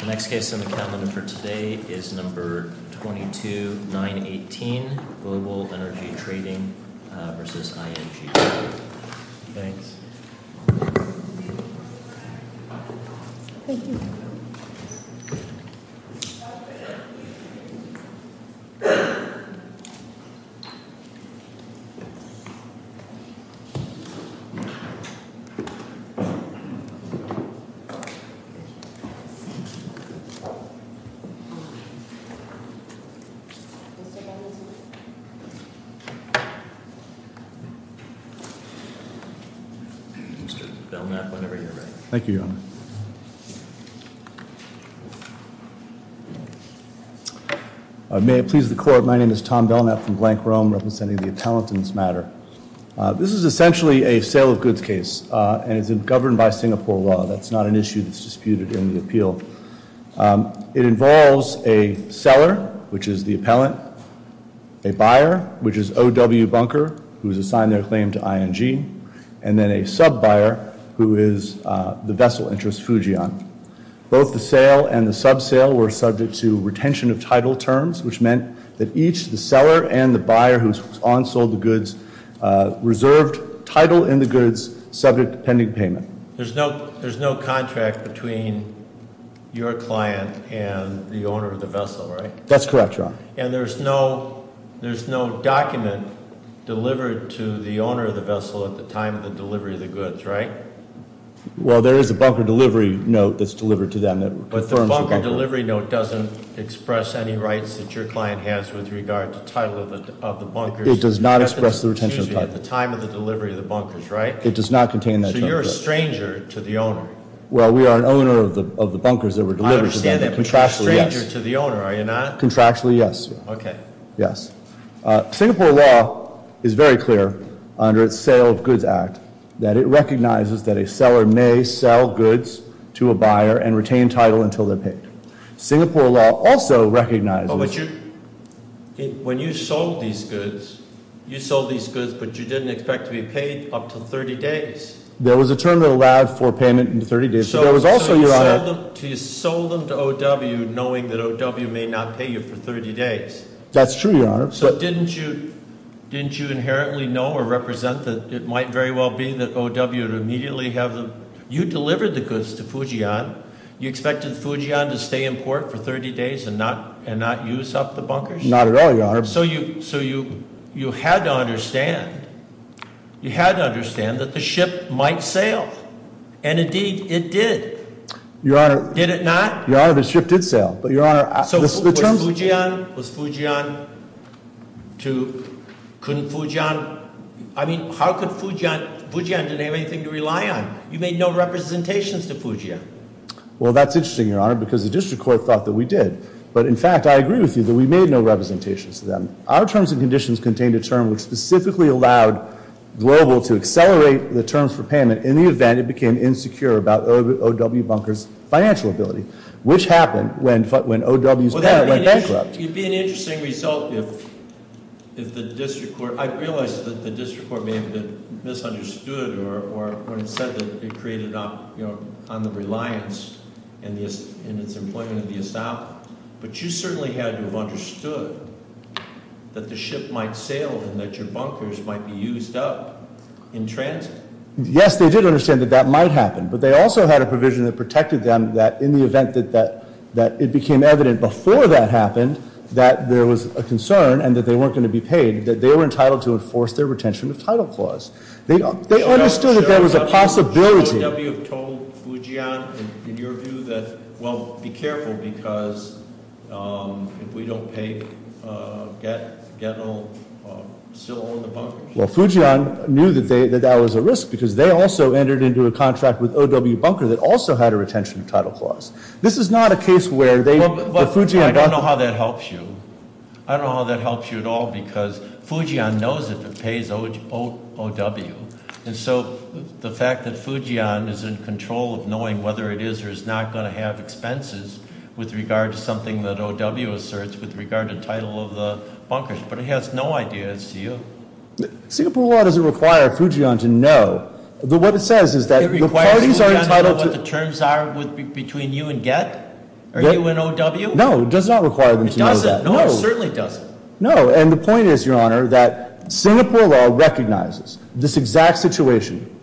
The next case on the calendar for today is No. 22-918, Global Energy Trading v. ING. Thanks. Mr. Belknap, whenever you're ready. Thank you, Your Honor. May it please the Court, my name is Tom Belknap from Blank Rome, representing the Atalantans matter. This is essentially a sale of goods case, and it's governed by Singapore law. That's not an issue that's disputed in the appeal. It involves a seller, which is the appellant, a buyer, which is O. W. Bunker, who has assigned their claim to ING, and then a sub-buyer, who is the vessel interest, Fujian. Both the sale and the sub-sale were subject to retention of title terms, which meant that each the seller and the buyer who onsold the goods reserved title in the goods subject to pending payment. There's no contract between your client and the owner of the vessel, right? That's correct, Your Honor. And there's no document delivered to the owner of the vessel at the time of the delivery of the goods, right? Well, there is a bunker delivery note that's delivered to them that confirms- But the bunker delivery note doesn't express any rights that your client has with regard to title of the bunkers- It does not express the retention of title. At the time of the delivery of the bunkers, right? It does not contain that- So you're a stranger to the owner? Well, we are an owner of the bunkers that were delivered to them. I understand that, but you're a stranger to the owner, are you not? Contractually, yes. Okay. Yes. Singapore law is very clear under its Sale of Goods Act that it recognizes that a seller may sell goods to a buyer and retain title until they're paid. Singapore law also recognizes- But when you sold these goods, you sold these goods but you didn't expect to be paid up to 30 days. There was a term that allowed for payment in 30 days, but there was also, Your Honor- So you sold them to O.W. knowing that O.W. may not pay you for 30 days. That's true, Your Honor. So didn't you inherently know or represent that it might very well be that O.W. would immediately have them- You delivered the goods to Fujian. You expected Fujian to stay in port for 30 days and not use up the bunkers? Not at all, Your Honor. So you had to understand. You had to understand that the ship might sail, and indeed it did. Your Honor- Did it not? Your Honor, the ship did sail, but Your Honor- So was Fujian to- Couldn't Fujian- I mean, how could Fujian- Fujian didn't have anything to rely on. You made no representations to Fujian. Well, that's interesting, Your Honor, because the district court thought that we did. But in fact, I agree with you that we made no representations to them. Our terms and conditions contained a term which specifically allowed Global to accelerate the terms for payment. In the event, it became insecure about O.W. Bunker's financial ability, which happened when O.W.'s bank went bankrupt. It'd be an interesting result if the district court- I realize that the district court may have been misunderstood or when it said that it created on the reliance in its employment of the establishment. But you certainly had to have understood that the ship might sail and that your bunkers might be used up in transit. Yes, they did understand that that might happen. But they also had a provision that protected them that in the event that it became evident before that happened, that there was a concern and that they weren't going to be paid, that they were entitled to enforce their retention of title clause. They understood that there was a possibility- Should O.W. have told Fujian, in your view, that, well, be careful because if we don't pay, we'll still own the bunkers? Well, Fujian knew that that was a risk because they also entered into a contract with O.W. Bunker that also had a retention of title clause. This is not a case where they- Well, I don't know how that helps you. I don't know how that helps you at all because Fujian knows if it pays O.W. And so the fact that Fujian is in control of knowing whether it is or is not going to have expenses with regard to something that O.W. asserts with regard to title of the bunkers. But he has no idea as to you. Singapore law doesn't require Fujian to know. But what it says is that the parties are entitled to- It requires Fujian to know what the terms are between you and Gett? Or you and O.W.? No, it does not require them to know that. It doesn't. No, it certainly doesn't. No, and the point is, Your Honor, that Singapore law recognizes this exact situation.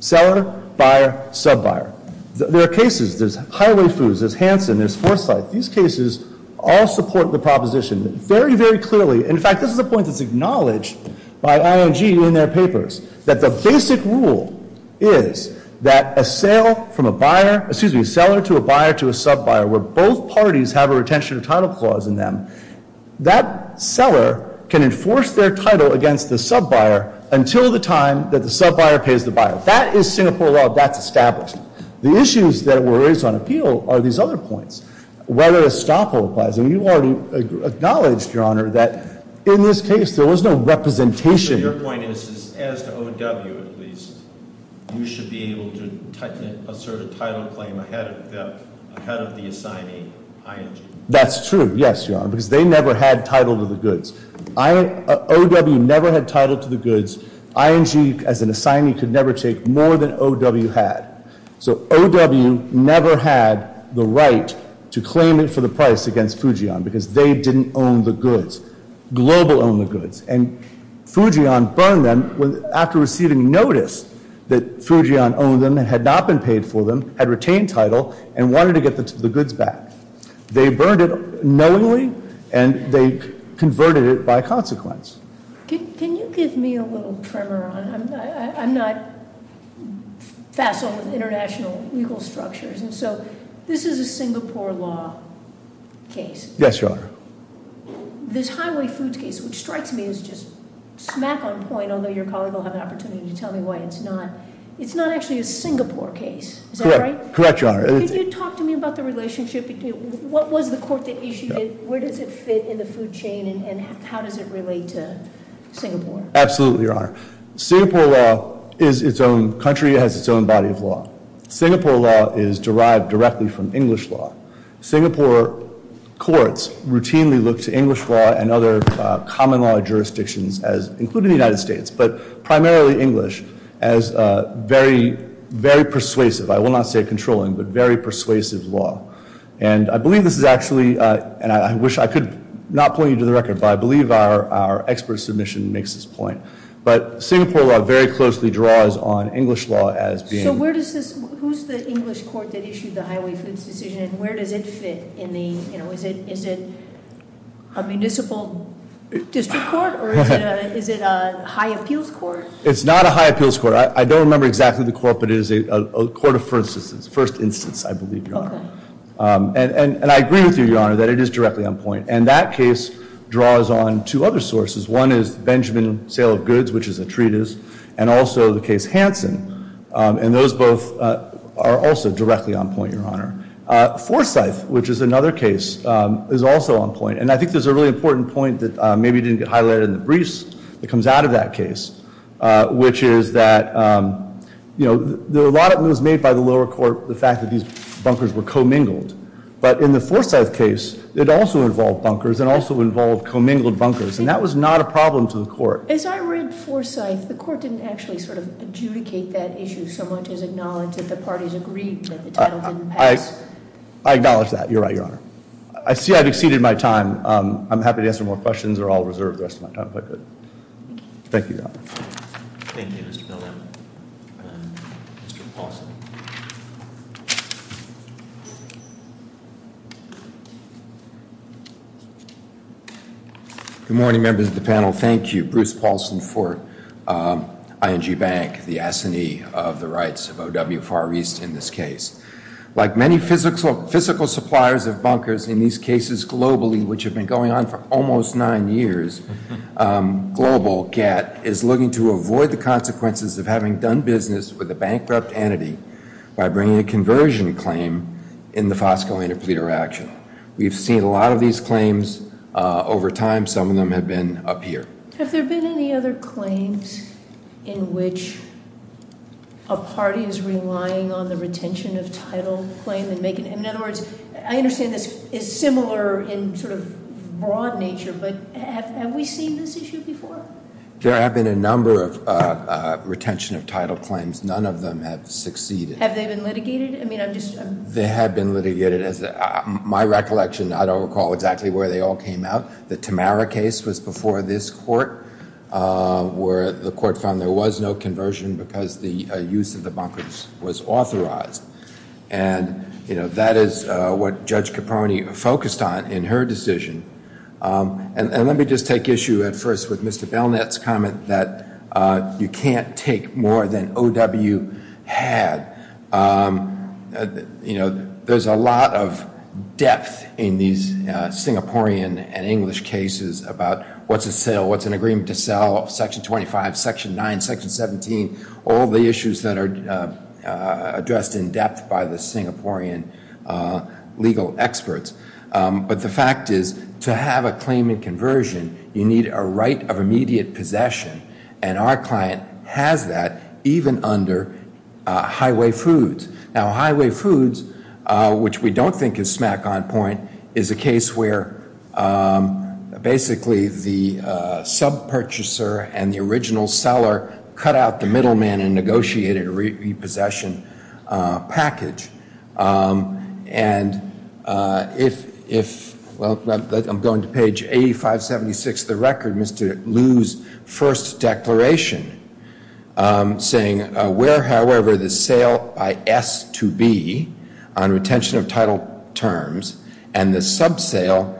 Seller, buyer, sub-buyer. There are cases. There's Highway Foods. There's Hanson. There's Foresight. These cases all support the proposition very, very clearly. In fact, this is a point that's acknowledged by ING in their papers. That the basic rule is that a sale from a buyer- Excuse me, a seller to a buyer to a sub-buyer, where both parties have a retention of title clause in them, that seller can enforce their title against the sub-buyer until the time that the sub-buyer pays the buyer. That is Singapore law. That's established. The issues that were raised on appeal are these other points. Whether a stop hold applies. And you already acknowledged, Your Honor, that in this case there was no representation- Your point is, as to OW at least, you should be able to assert a title claim ahead of the assignee, ING. That's true. Yes, Your Honor. Because they never had title to the goods. OW never had title to the goods. ING, as an assignee, could never take more than OW had. So OW never had the right to claim it for the price against Fujian. Because they didn't own the goods. Global owned the goods. And Fujian burned them after receiving notice that Fujian owned them and had not been paid for them, had retained title, and wanted to get the goods back. They burned it knowingly, and they converted it by consequence. Can you give me a little tremor, Your Honor? I'm not facile with international legal structures, and so this is a Singapore law case. Yes, Your Honor. This highway foods case, which strikes me as just smack on point, although your colleague will have an opportunity to tell me why it's not. It's not actually a Singapore case. Is that right? Correct, Your Honor. Can you talk to me about the relationship? What was the court that issued it? Absolutely, Your Honor. Singapore law is its own country. It has its own body of law. Singapore law is derived directly from English law. Singapore courts routinely look to English law and other common law jurisdictions, including the United States, but primarily English, as very persuasive. I will not say controlling, but very persuasive law. And I believe this is actually, and I wish I could not point you to the record, but I believe our expert submission makes this point. But Singapore law very closely draws on English law as being— So where does this—who's the English court that issued the highway foods decision, and where does it fit in the—is it a municipal district court, or is it a high appeals court? It's not a high appeals court. I don't remember exactly the court, but it is a court of first instance, I believe, Your Honor. And I agree with you, Your Honor, that it is directly on point. And that case draws on two other sources. One is the Benjamin sale of goods, which is a treatise, and also the case Hansen. And those both are also directly on point, Your Honor. Forsyth, which is another case, is also on point. And I think there's a really important point that maybe didn't get highlighted in the briefs that comes out of that case, which is that, you know, a lot of it was made by the lower court, the fact that these bunkers were commingled. But in the Forsyth case, it also involved bunkers and also involved commingled bunkers. And that was not a problem to the court. As I read Forsyth, the court didn't actually sort of adjudicate that issue so much as acknowledge that the parties agreed that the title didn't pass. I acknowledge that. You're right, Your Honor. I see I've exceeded my time. I'm happy to answer more questions or I'll reserve the rest of my time if I could. Thank you. Thank you, Your Honor. Thank you, Mr. Bellamy. Mr. Paulson. Good morning, members of the panel. Thank you. Bruce Paulson for ING Bank, the assignee of the rights of OW Far East in this case. Like many physical suppliers of bunkers in these cases globally, which have been going on for almost nine years, Global GATT is looking to avoid the consequences of having done business with a bankrupt entity by bringing a conversion claim in the Fosco Interpreter Action. We've seen a lot of these claims over time. Some of them have been up here. Have there been any other claims in which a party is relying on the retention of title claim? In other words, I understand this is similar in sort of broad nature, but have we seen this issue before? There have been a number of retention of title claims. None of them have succeeded. Have they been litigated? They have been litigated. My recollection, I don't recall exactly where they all came out. The Tamara case was before this court where the court found there was no conversion because the use of the bunkers was authorized. And, you know, that is what Judge Caproni focused on in her decision. And let me just take issue at first with Mr. Belknap's comment that you can't take more than OW had. You know, there's a lot of depth in these Singaporean and English cases about what's a sale, what's an agreement to sell, Section 25, Section 9, Section 17, all the issues that are addressed in depth by the Singaporean legal experts. But the fact is, to have a claimant conversion, you need a right of immediate possession. And our client has that even under Highway Foods. Now, Highway Foods, which we don't think is smack on point, is a case where basically the sub-purchaser and the original seller cut out the middleman and negotiated a repossession package. And if, well, I'm going to page 8576 of the record, Mr. Liu's first declaration, saying where, however, the sale by S to B on retention of title terms and the sub-sale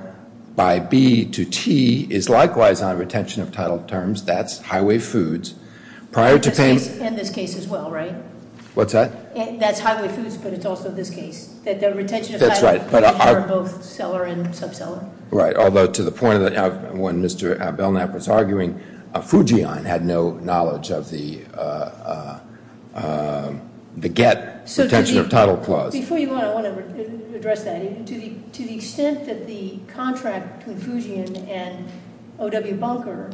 by B to T is likewise on retention of title terms, that's Highway Foods. Prior to paying... In this case as well, right? What's that? That's Highway Foods, but it's also this case, that the retention of title... That's right. ...for both seller and sub-seller. Right, although to the point of when Mr. Belknap was arguing, Fujian had no knowledge of the GET, retention of title clause. Before you go, I want to address that. To the extent that the contract between Fujian and O.W. Bunker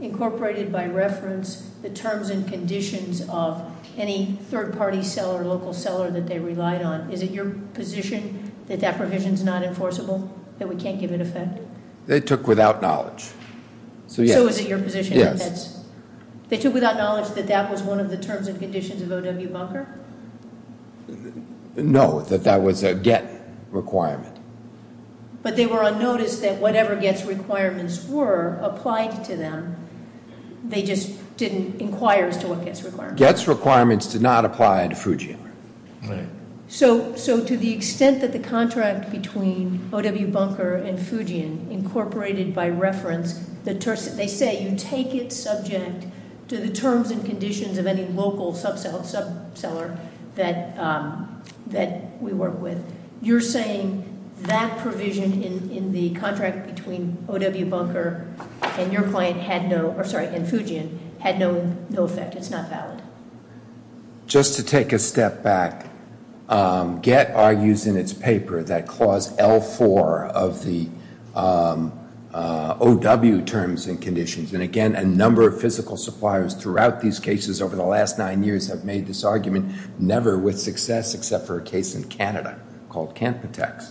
incorporated by reference the terms and conditions of any third-party seller, local seller that they relied on, is it your position that that provision is not enforceable, that we can't give it effect? They took without knowledge. So is it your position that that's... Yes. They took without knowledge that that was one of the terms and conditions of O.W. Bunker? No, that that was a GET requirement. But they were on notice that whatever GET's requirements were applied to them. They just didn't inquire as to what GET's requirements were. GET's requirements did not apply to Fujian. Right. So to the extent that the contract between O.W. Bunker and Fujian incorporated by reference, they say you take it subject to the terms and conditions of any local sub-seller that we work with. You're saying that provision in the contract between O.W. Bunker and Fujian had no effect? It's not valid? Just to take a step back, GET argues in its paper that Clause L4 of the O.W. terms and conditions, and again, a number of physical suppliers throughout these cases over the last nine years have made this argument never with success except for a case in Canada called Campitex,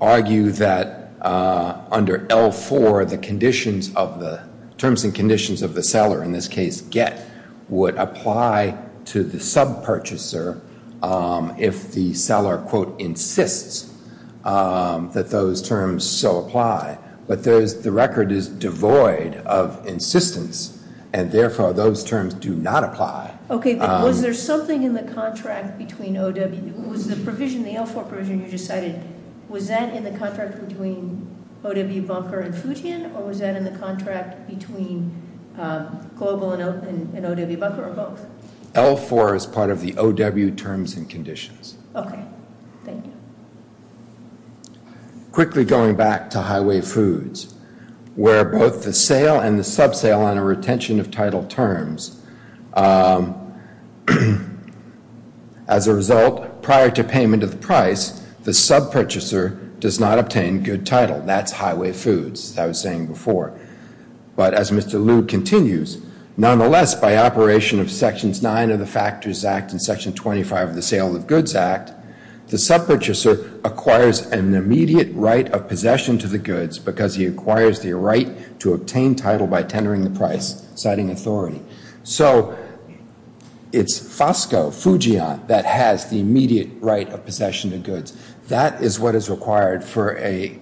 argue that under L4 the terms and conditions of the seller, in this case GET, would apply to the sub-purchaser if the seller, quote, insists that those terms so apply. But the record is devoid of insistence, and therefore those terms do not apply. Okay, but was there something in the contract between O.W. Was the provision, the L4 provision you just cited, was that in the contract between O.W. Bunker and Fujian, or was that in the contract between Global and O.W. Bunker or both? L4 is part of the O.W. terms and conditions. Okay. Thank you. Quickly going back to Highway Foods, where both the sale and the sub-sale on a retention of title terms, as a result, prior to payment of the price, the sub-purchaser does not obtain good title. That's Highway Foods, as I was saying before. But as Mr. Lewd continues, nonetheless, by operation of Sections 9 of the Factors Act and Section 25 of the Sales of Goods Act, the sub-purchaser acquires an immediate right of possession to the goods because he acquires the right to obtain title by tendering the price, citing authority. So it's FOSCO, Fujian, that has the immediate right of possession of goods. That is what is required for a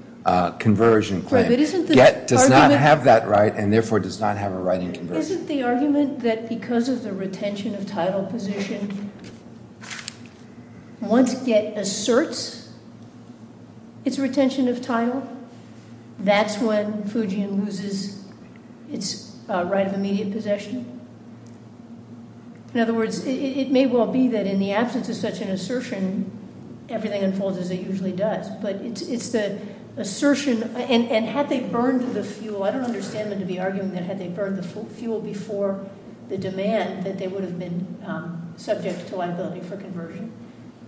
conversion claim. But isn't the argument— Yet does not have that right, and therefore does not have a right in conversion. Isn't the argument that because of the retention of title position, once it asserts its retention of title, that's when Fujian loses its right of immediate possession? In other words, it may well be that in the absence of such an assertion, everything unfolds as it usually does. But it's the assertion—and had they burned the fuel, I don't understand them to be arguing that had they burned the fuel before the demand, that they would have been subject to liability for conversion.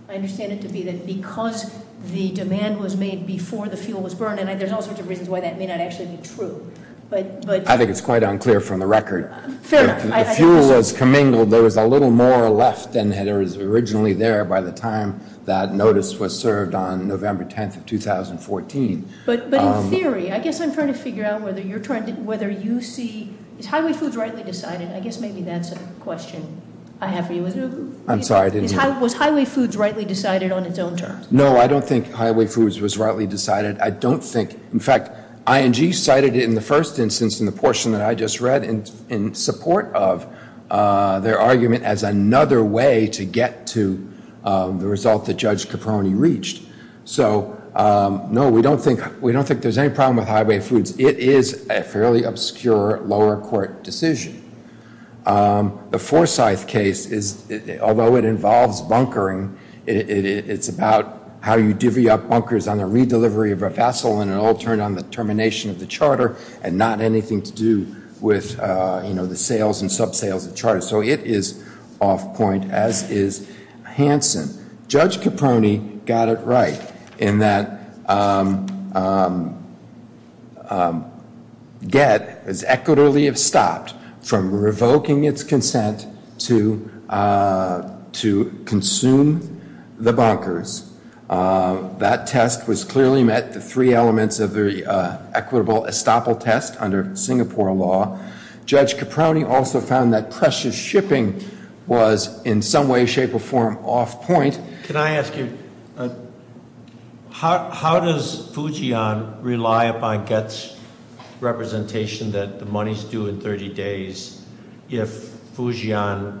I understand it to be that because the demand was made before the fuel was burned, and there's all sorts of reasons why that may not actually be true. I think it's quite unclear from the record. Fair enough. The fuel was commingled. There was a little more left than was originally there by the time that notice was served on November 10th of 2014. But in theory, I guess I'm trying to figure out whether you see—is Highway Foods rightly decided? I guess maybe that's a question I have for you. I'm sorry, I didn't— Was Highway Foods rightly decided on its own terms? No, I don't think Highway Foods was rightly decided. I don't think—in fact, ING cited it in the first instance in the portion that I just read in support of their argument as another way to get to the result that Judge Caproni reached. So, no, we don't think there's any problem with Highway Foods. It is a fairly obscure lower court decision. The Forsyth case, although it involves bunkering, it's about how you divvy up bunkers on the redelivery of a vessel and an alternate on the termination of the charter and not anything to do with the sales and sub-sales of the charter. So it is off point, as is Hansen. Judge Caproni got it right in that get as equitably as stopped from revoking its consent to consume the bunkers. That test was clearly met. The three elements of the equitable estoppel test under Singapore law. Judge Caproni also found that precious shipping was in some way, shape, or form off point. Can I ask you, how does Fujian rely upon GET's representation that the money's due in 30 days if Fujian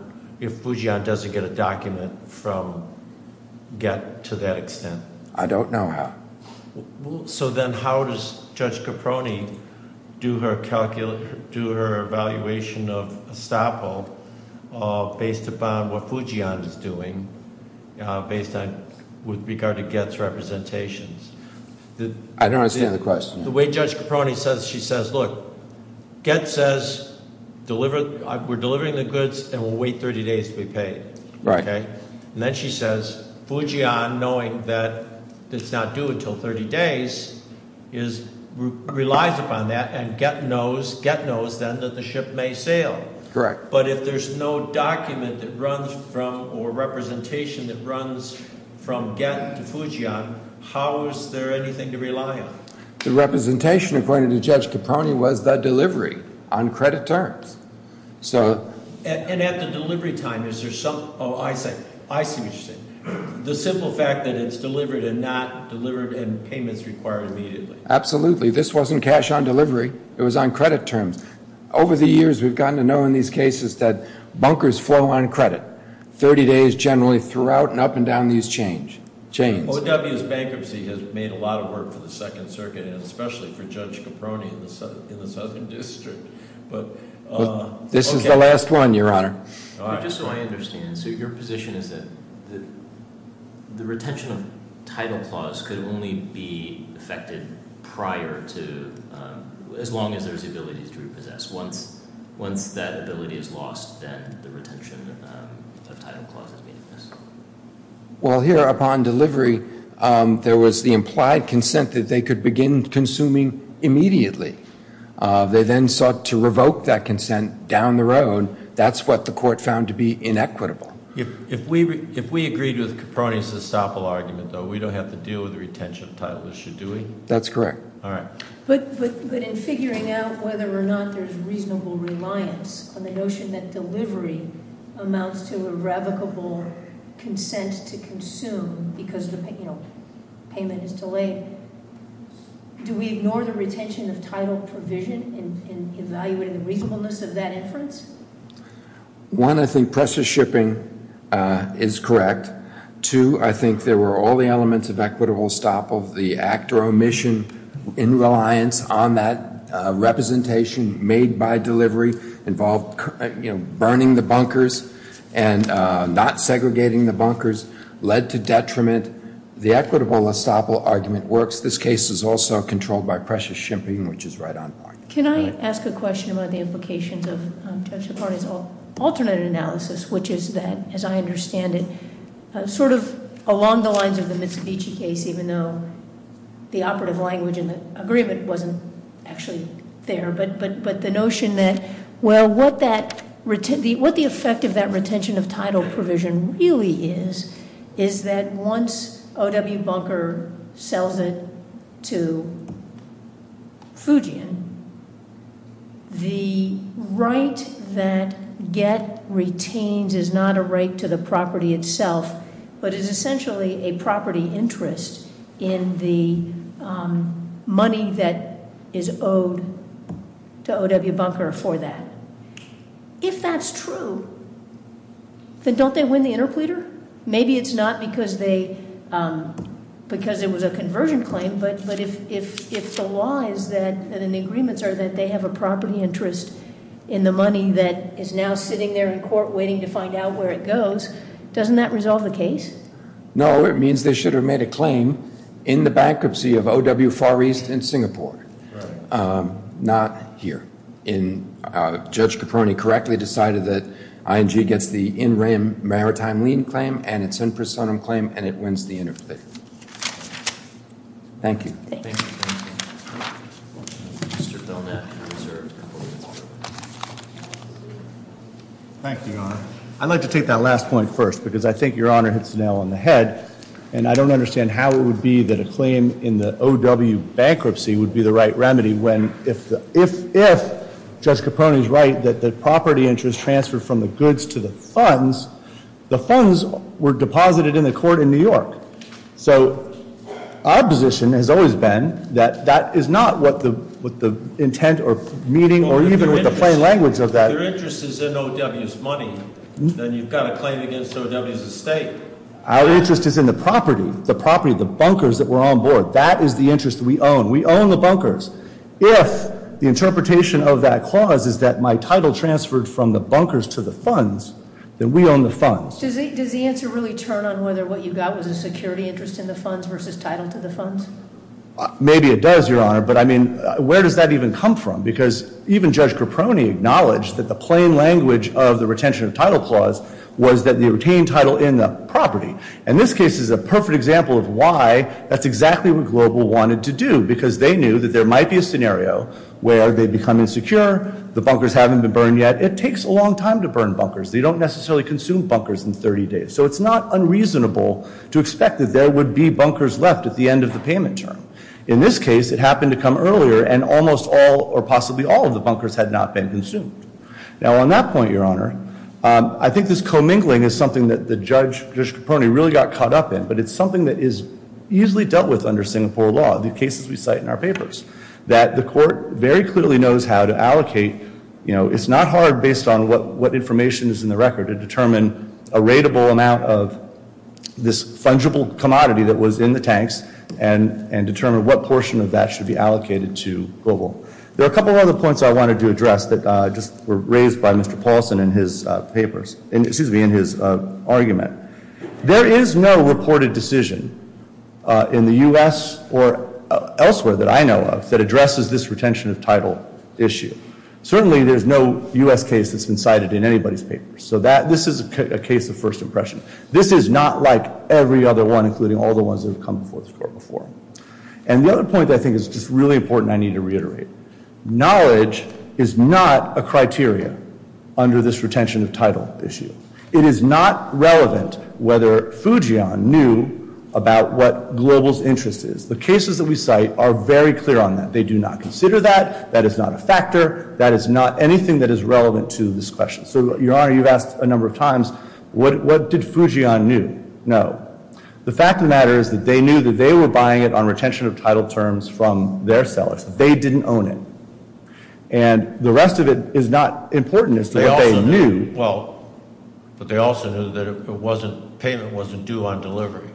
doesn't get a document from GET to that extent? I don't know how. So then how does Judge Caproni do her evaluation of estoppel based upon what Fujian is doing with regard to GET's representations? I don't understand the question. The way Judge Caproni says, she says, look, GET says we're delivering the goods And then she says, Fujian, knowing that it's not due until 30 days, relies upon that and GET knows then that the ship may sail. But if there's no document that runs from or representation that runs from GET to Fujian, how is there anything to rely on? The representation, according to Judge Caproni, was the delivery on credit terms. And at the delivery time, I see what you're saying. The simple fact that it's delivered and not delivered and payments required immediately. Absolutely. This wasn't cash on delivery. It was on credit terms. Over the years, we've gotten to know in these cases that bunkers flow on credit. 30 days generally throughout and up and down these chains. OW's bankruptcy has made a lot of work for the Second Circuit and especially for Judge Caproni in the Southern District. This is the last one, Your Honor. Just so I understand, so your position is that the retention of title clause could only be affected prior to as long as there's the ability to repossess. Once that ability is lost, then the retention of title clause is meaningless. Well, here upon delivery, there was the implied consent that they could begin consuming immediately. They then sought to revoke that consent down the road. That's what the court found to be inequitable. If we agreed with Caproni's estoppel argument, though, we don't have to deal with the retention of title issue, do we? That's correct. All right. But in figuring out whether or not there's reasonable reliance on the notion that delivery amounts to irrevocable consent to consume because the payment is delayed, do we ignore the retention of title provision in evaluating the reasonableness of that inference? One, I think pressure shipping is correct. Two, I think there were all the elements of equitable estoppel, the act or omission in reliance on that representation made by delivery involved burning the bunkers and not segregating the bunkers, led to detriment. The equitable estoppel argument works. This case is also controlled by pressure shipping, which is right on point. Can I ask a question about the implications of Judge Caproni's alternate analysis, which is that, as I understand it, sort of along the lines of the Mitsubishi case, even though the operative language in the agreement wasn't actually there, but the notion that, well, what the effect of that retention of title provision really is, is that once O.W. Bunker sells it to Fujian, the right that Get retains is not a right to the property itself, but is essentially a property interest in the money that is owed to O.W. Bunker for that. If that's true, then don't they win the interpleader? Maybe it's not because it was a conversion claim, but if the law is that and the agreements are that they have a property interest in the money that is now sitting there in court waiting to find out where it goes, doesn't that resolve the case? No, it means they should have made a claim in the bankruptcy of O.W. Far East in Singapore, not here. Judge Caproni correctly decided that ING gets the in rem maritime lien claim and its in personam claim and it wins the interpleader. Thank you. Thank you. Thank you, Your Honor. I'd like to take that last point first, because I think Your Honor hits the nail on the head, and I don't understand how it would be that a claim in the O.W. bankruptcy would be the right remedy when, if Judge Caproni is right that the property interest transferred from the goods to the funds, the funds were deposited in the court in New York. So our position has always been that that is not what the intent or meaning or even with the plain language of that. If their interest is in O.W.'s money, then you've got a claim against O.W.'s estate. Our interest is in the property, the property, the bunkers that were on board. That is the interest we own. We own the bunkers. If the interpretation of that clause is that my title transferred from the bunkers to the funds, then we own the funds. Does the answer really turn on whether what you got was a security interest in the funds versus title to the funds? Maybe it does, Your Honor. But, I mean, where does that even come from? Because even Judge Caproni acknowledged that the plain language of the retention of title clause was that you retain title in the property. And this case is a perfect example of why that's exactly what Global wanted to do, because they knew that there might be a scenario where they become insecure, the bunkers haven't been burned yet. It takes a long time to burn bunkers. They don't necessarily consume bunkers in 30 days. So it's not unreasonable to expect that there would be bunkers left at the end of the payment term. In this case, it happened to come earlier, and almost all or possibly all of the bunkers had not been consumed. Now, on that point, Your Honor, I think this commingling is something that Judge Caproni really got caught up in, but it's something that is easily dealt with under Singapore law, the cases we cite in our papers, that the court very clearly knows how to allocate. You know, it's not hard, based on what information is in the record, to determine a rateable amount of this fungible commodity that was in the tanks and determine what portion of that should be allocated to Global. There are a couple of other points I wanted to address that just were raised by Mr. Paulson in his papers, excuse me, in his argument. There is no reported decision in the U.S. or elsewhere that I know of that addresses this retention of title issue. Certainly, there's no U.S. case that's been cited in anybody's papers. So this is a case of first impression. This is not like every other one, including all the ones that have come before this Court before. And the other point that I think is just really important I need to reiterate. Knowledge is not a criteria under this retention of title issue. It is not relevant whether Fujian knew about what Global's interest is. The cases that we cite are very clear on that. They do not consider that. That is not a factor. That is not anything that is relevant to this question. So, Your Honor, you've asked a number of times, what did Fujian knew? No. The fact of the matter is that they knew that they were buying it on retention of title terms from their sellers. They didn't own it. And the rest of it is not important as to what they knew. Well, but they also knew that payment wasn't due on delivery.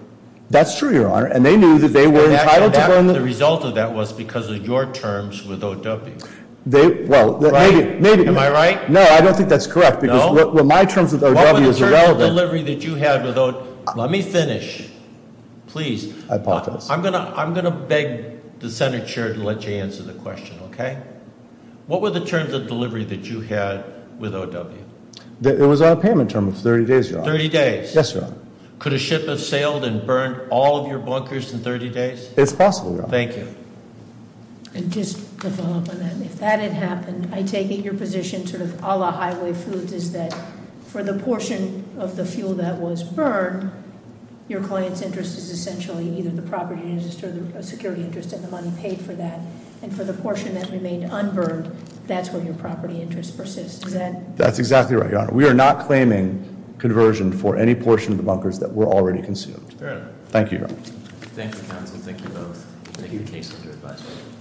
That's true, Your Honor. And they knew that they were entitled to- The result of that was because of your terms with O.W. Well, maybe- Right? Am I right? No, I don't think that's correct. No? Because my terms with O.W. is irrelevant. What were the terms of delivery that you had with O.W.? Let me finish. Please. I apologize. I'm going to beg the Senate Chair to let you answer the question, okay? What were the terms of delivery that you had with O.W.? It was on a payment term of 30 days, Your Honor. 30 days? Yes, Your Honor. Could a ship have sailed and burned all of your bunkers in 30 days? It's possible, Your Honor. Thank you. And just to follow up on that, if that had happened, I take it your position sort of a la Highway Foods is that for the portion of the fuel that was burned, your client's interest is essentially either the property interest or the money paid for that, and for the portion that remained unburned, that's where your property interest persists. Is that- That's exactly right, Your Honor. We are not claiming conversion for any portion of the bunkers that were already consumed. Fair enough. Thank you, Your Honor. Thank you, counsel. Thank you both. Thank you. Thank you. Thank you. Thank you. Thank you. Thank you. Thank you. Thank you. Thank you. Thank you.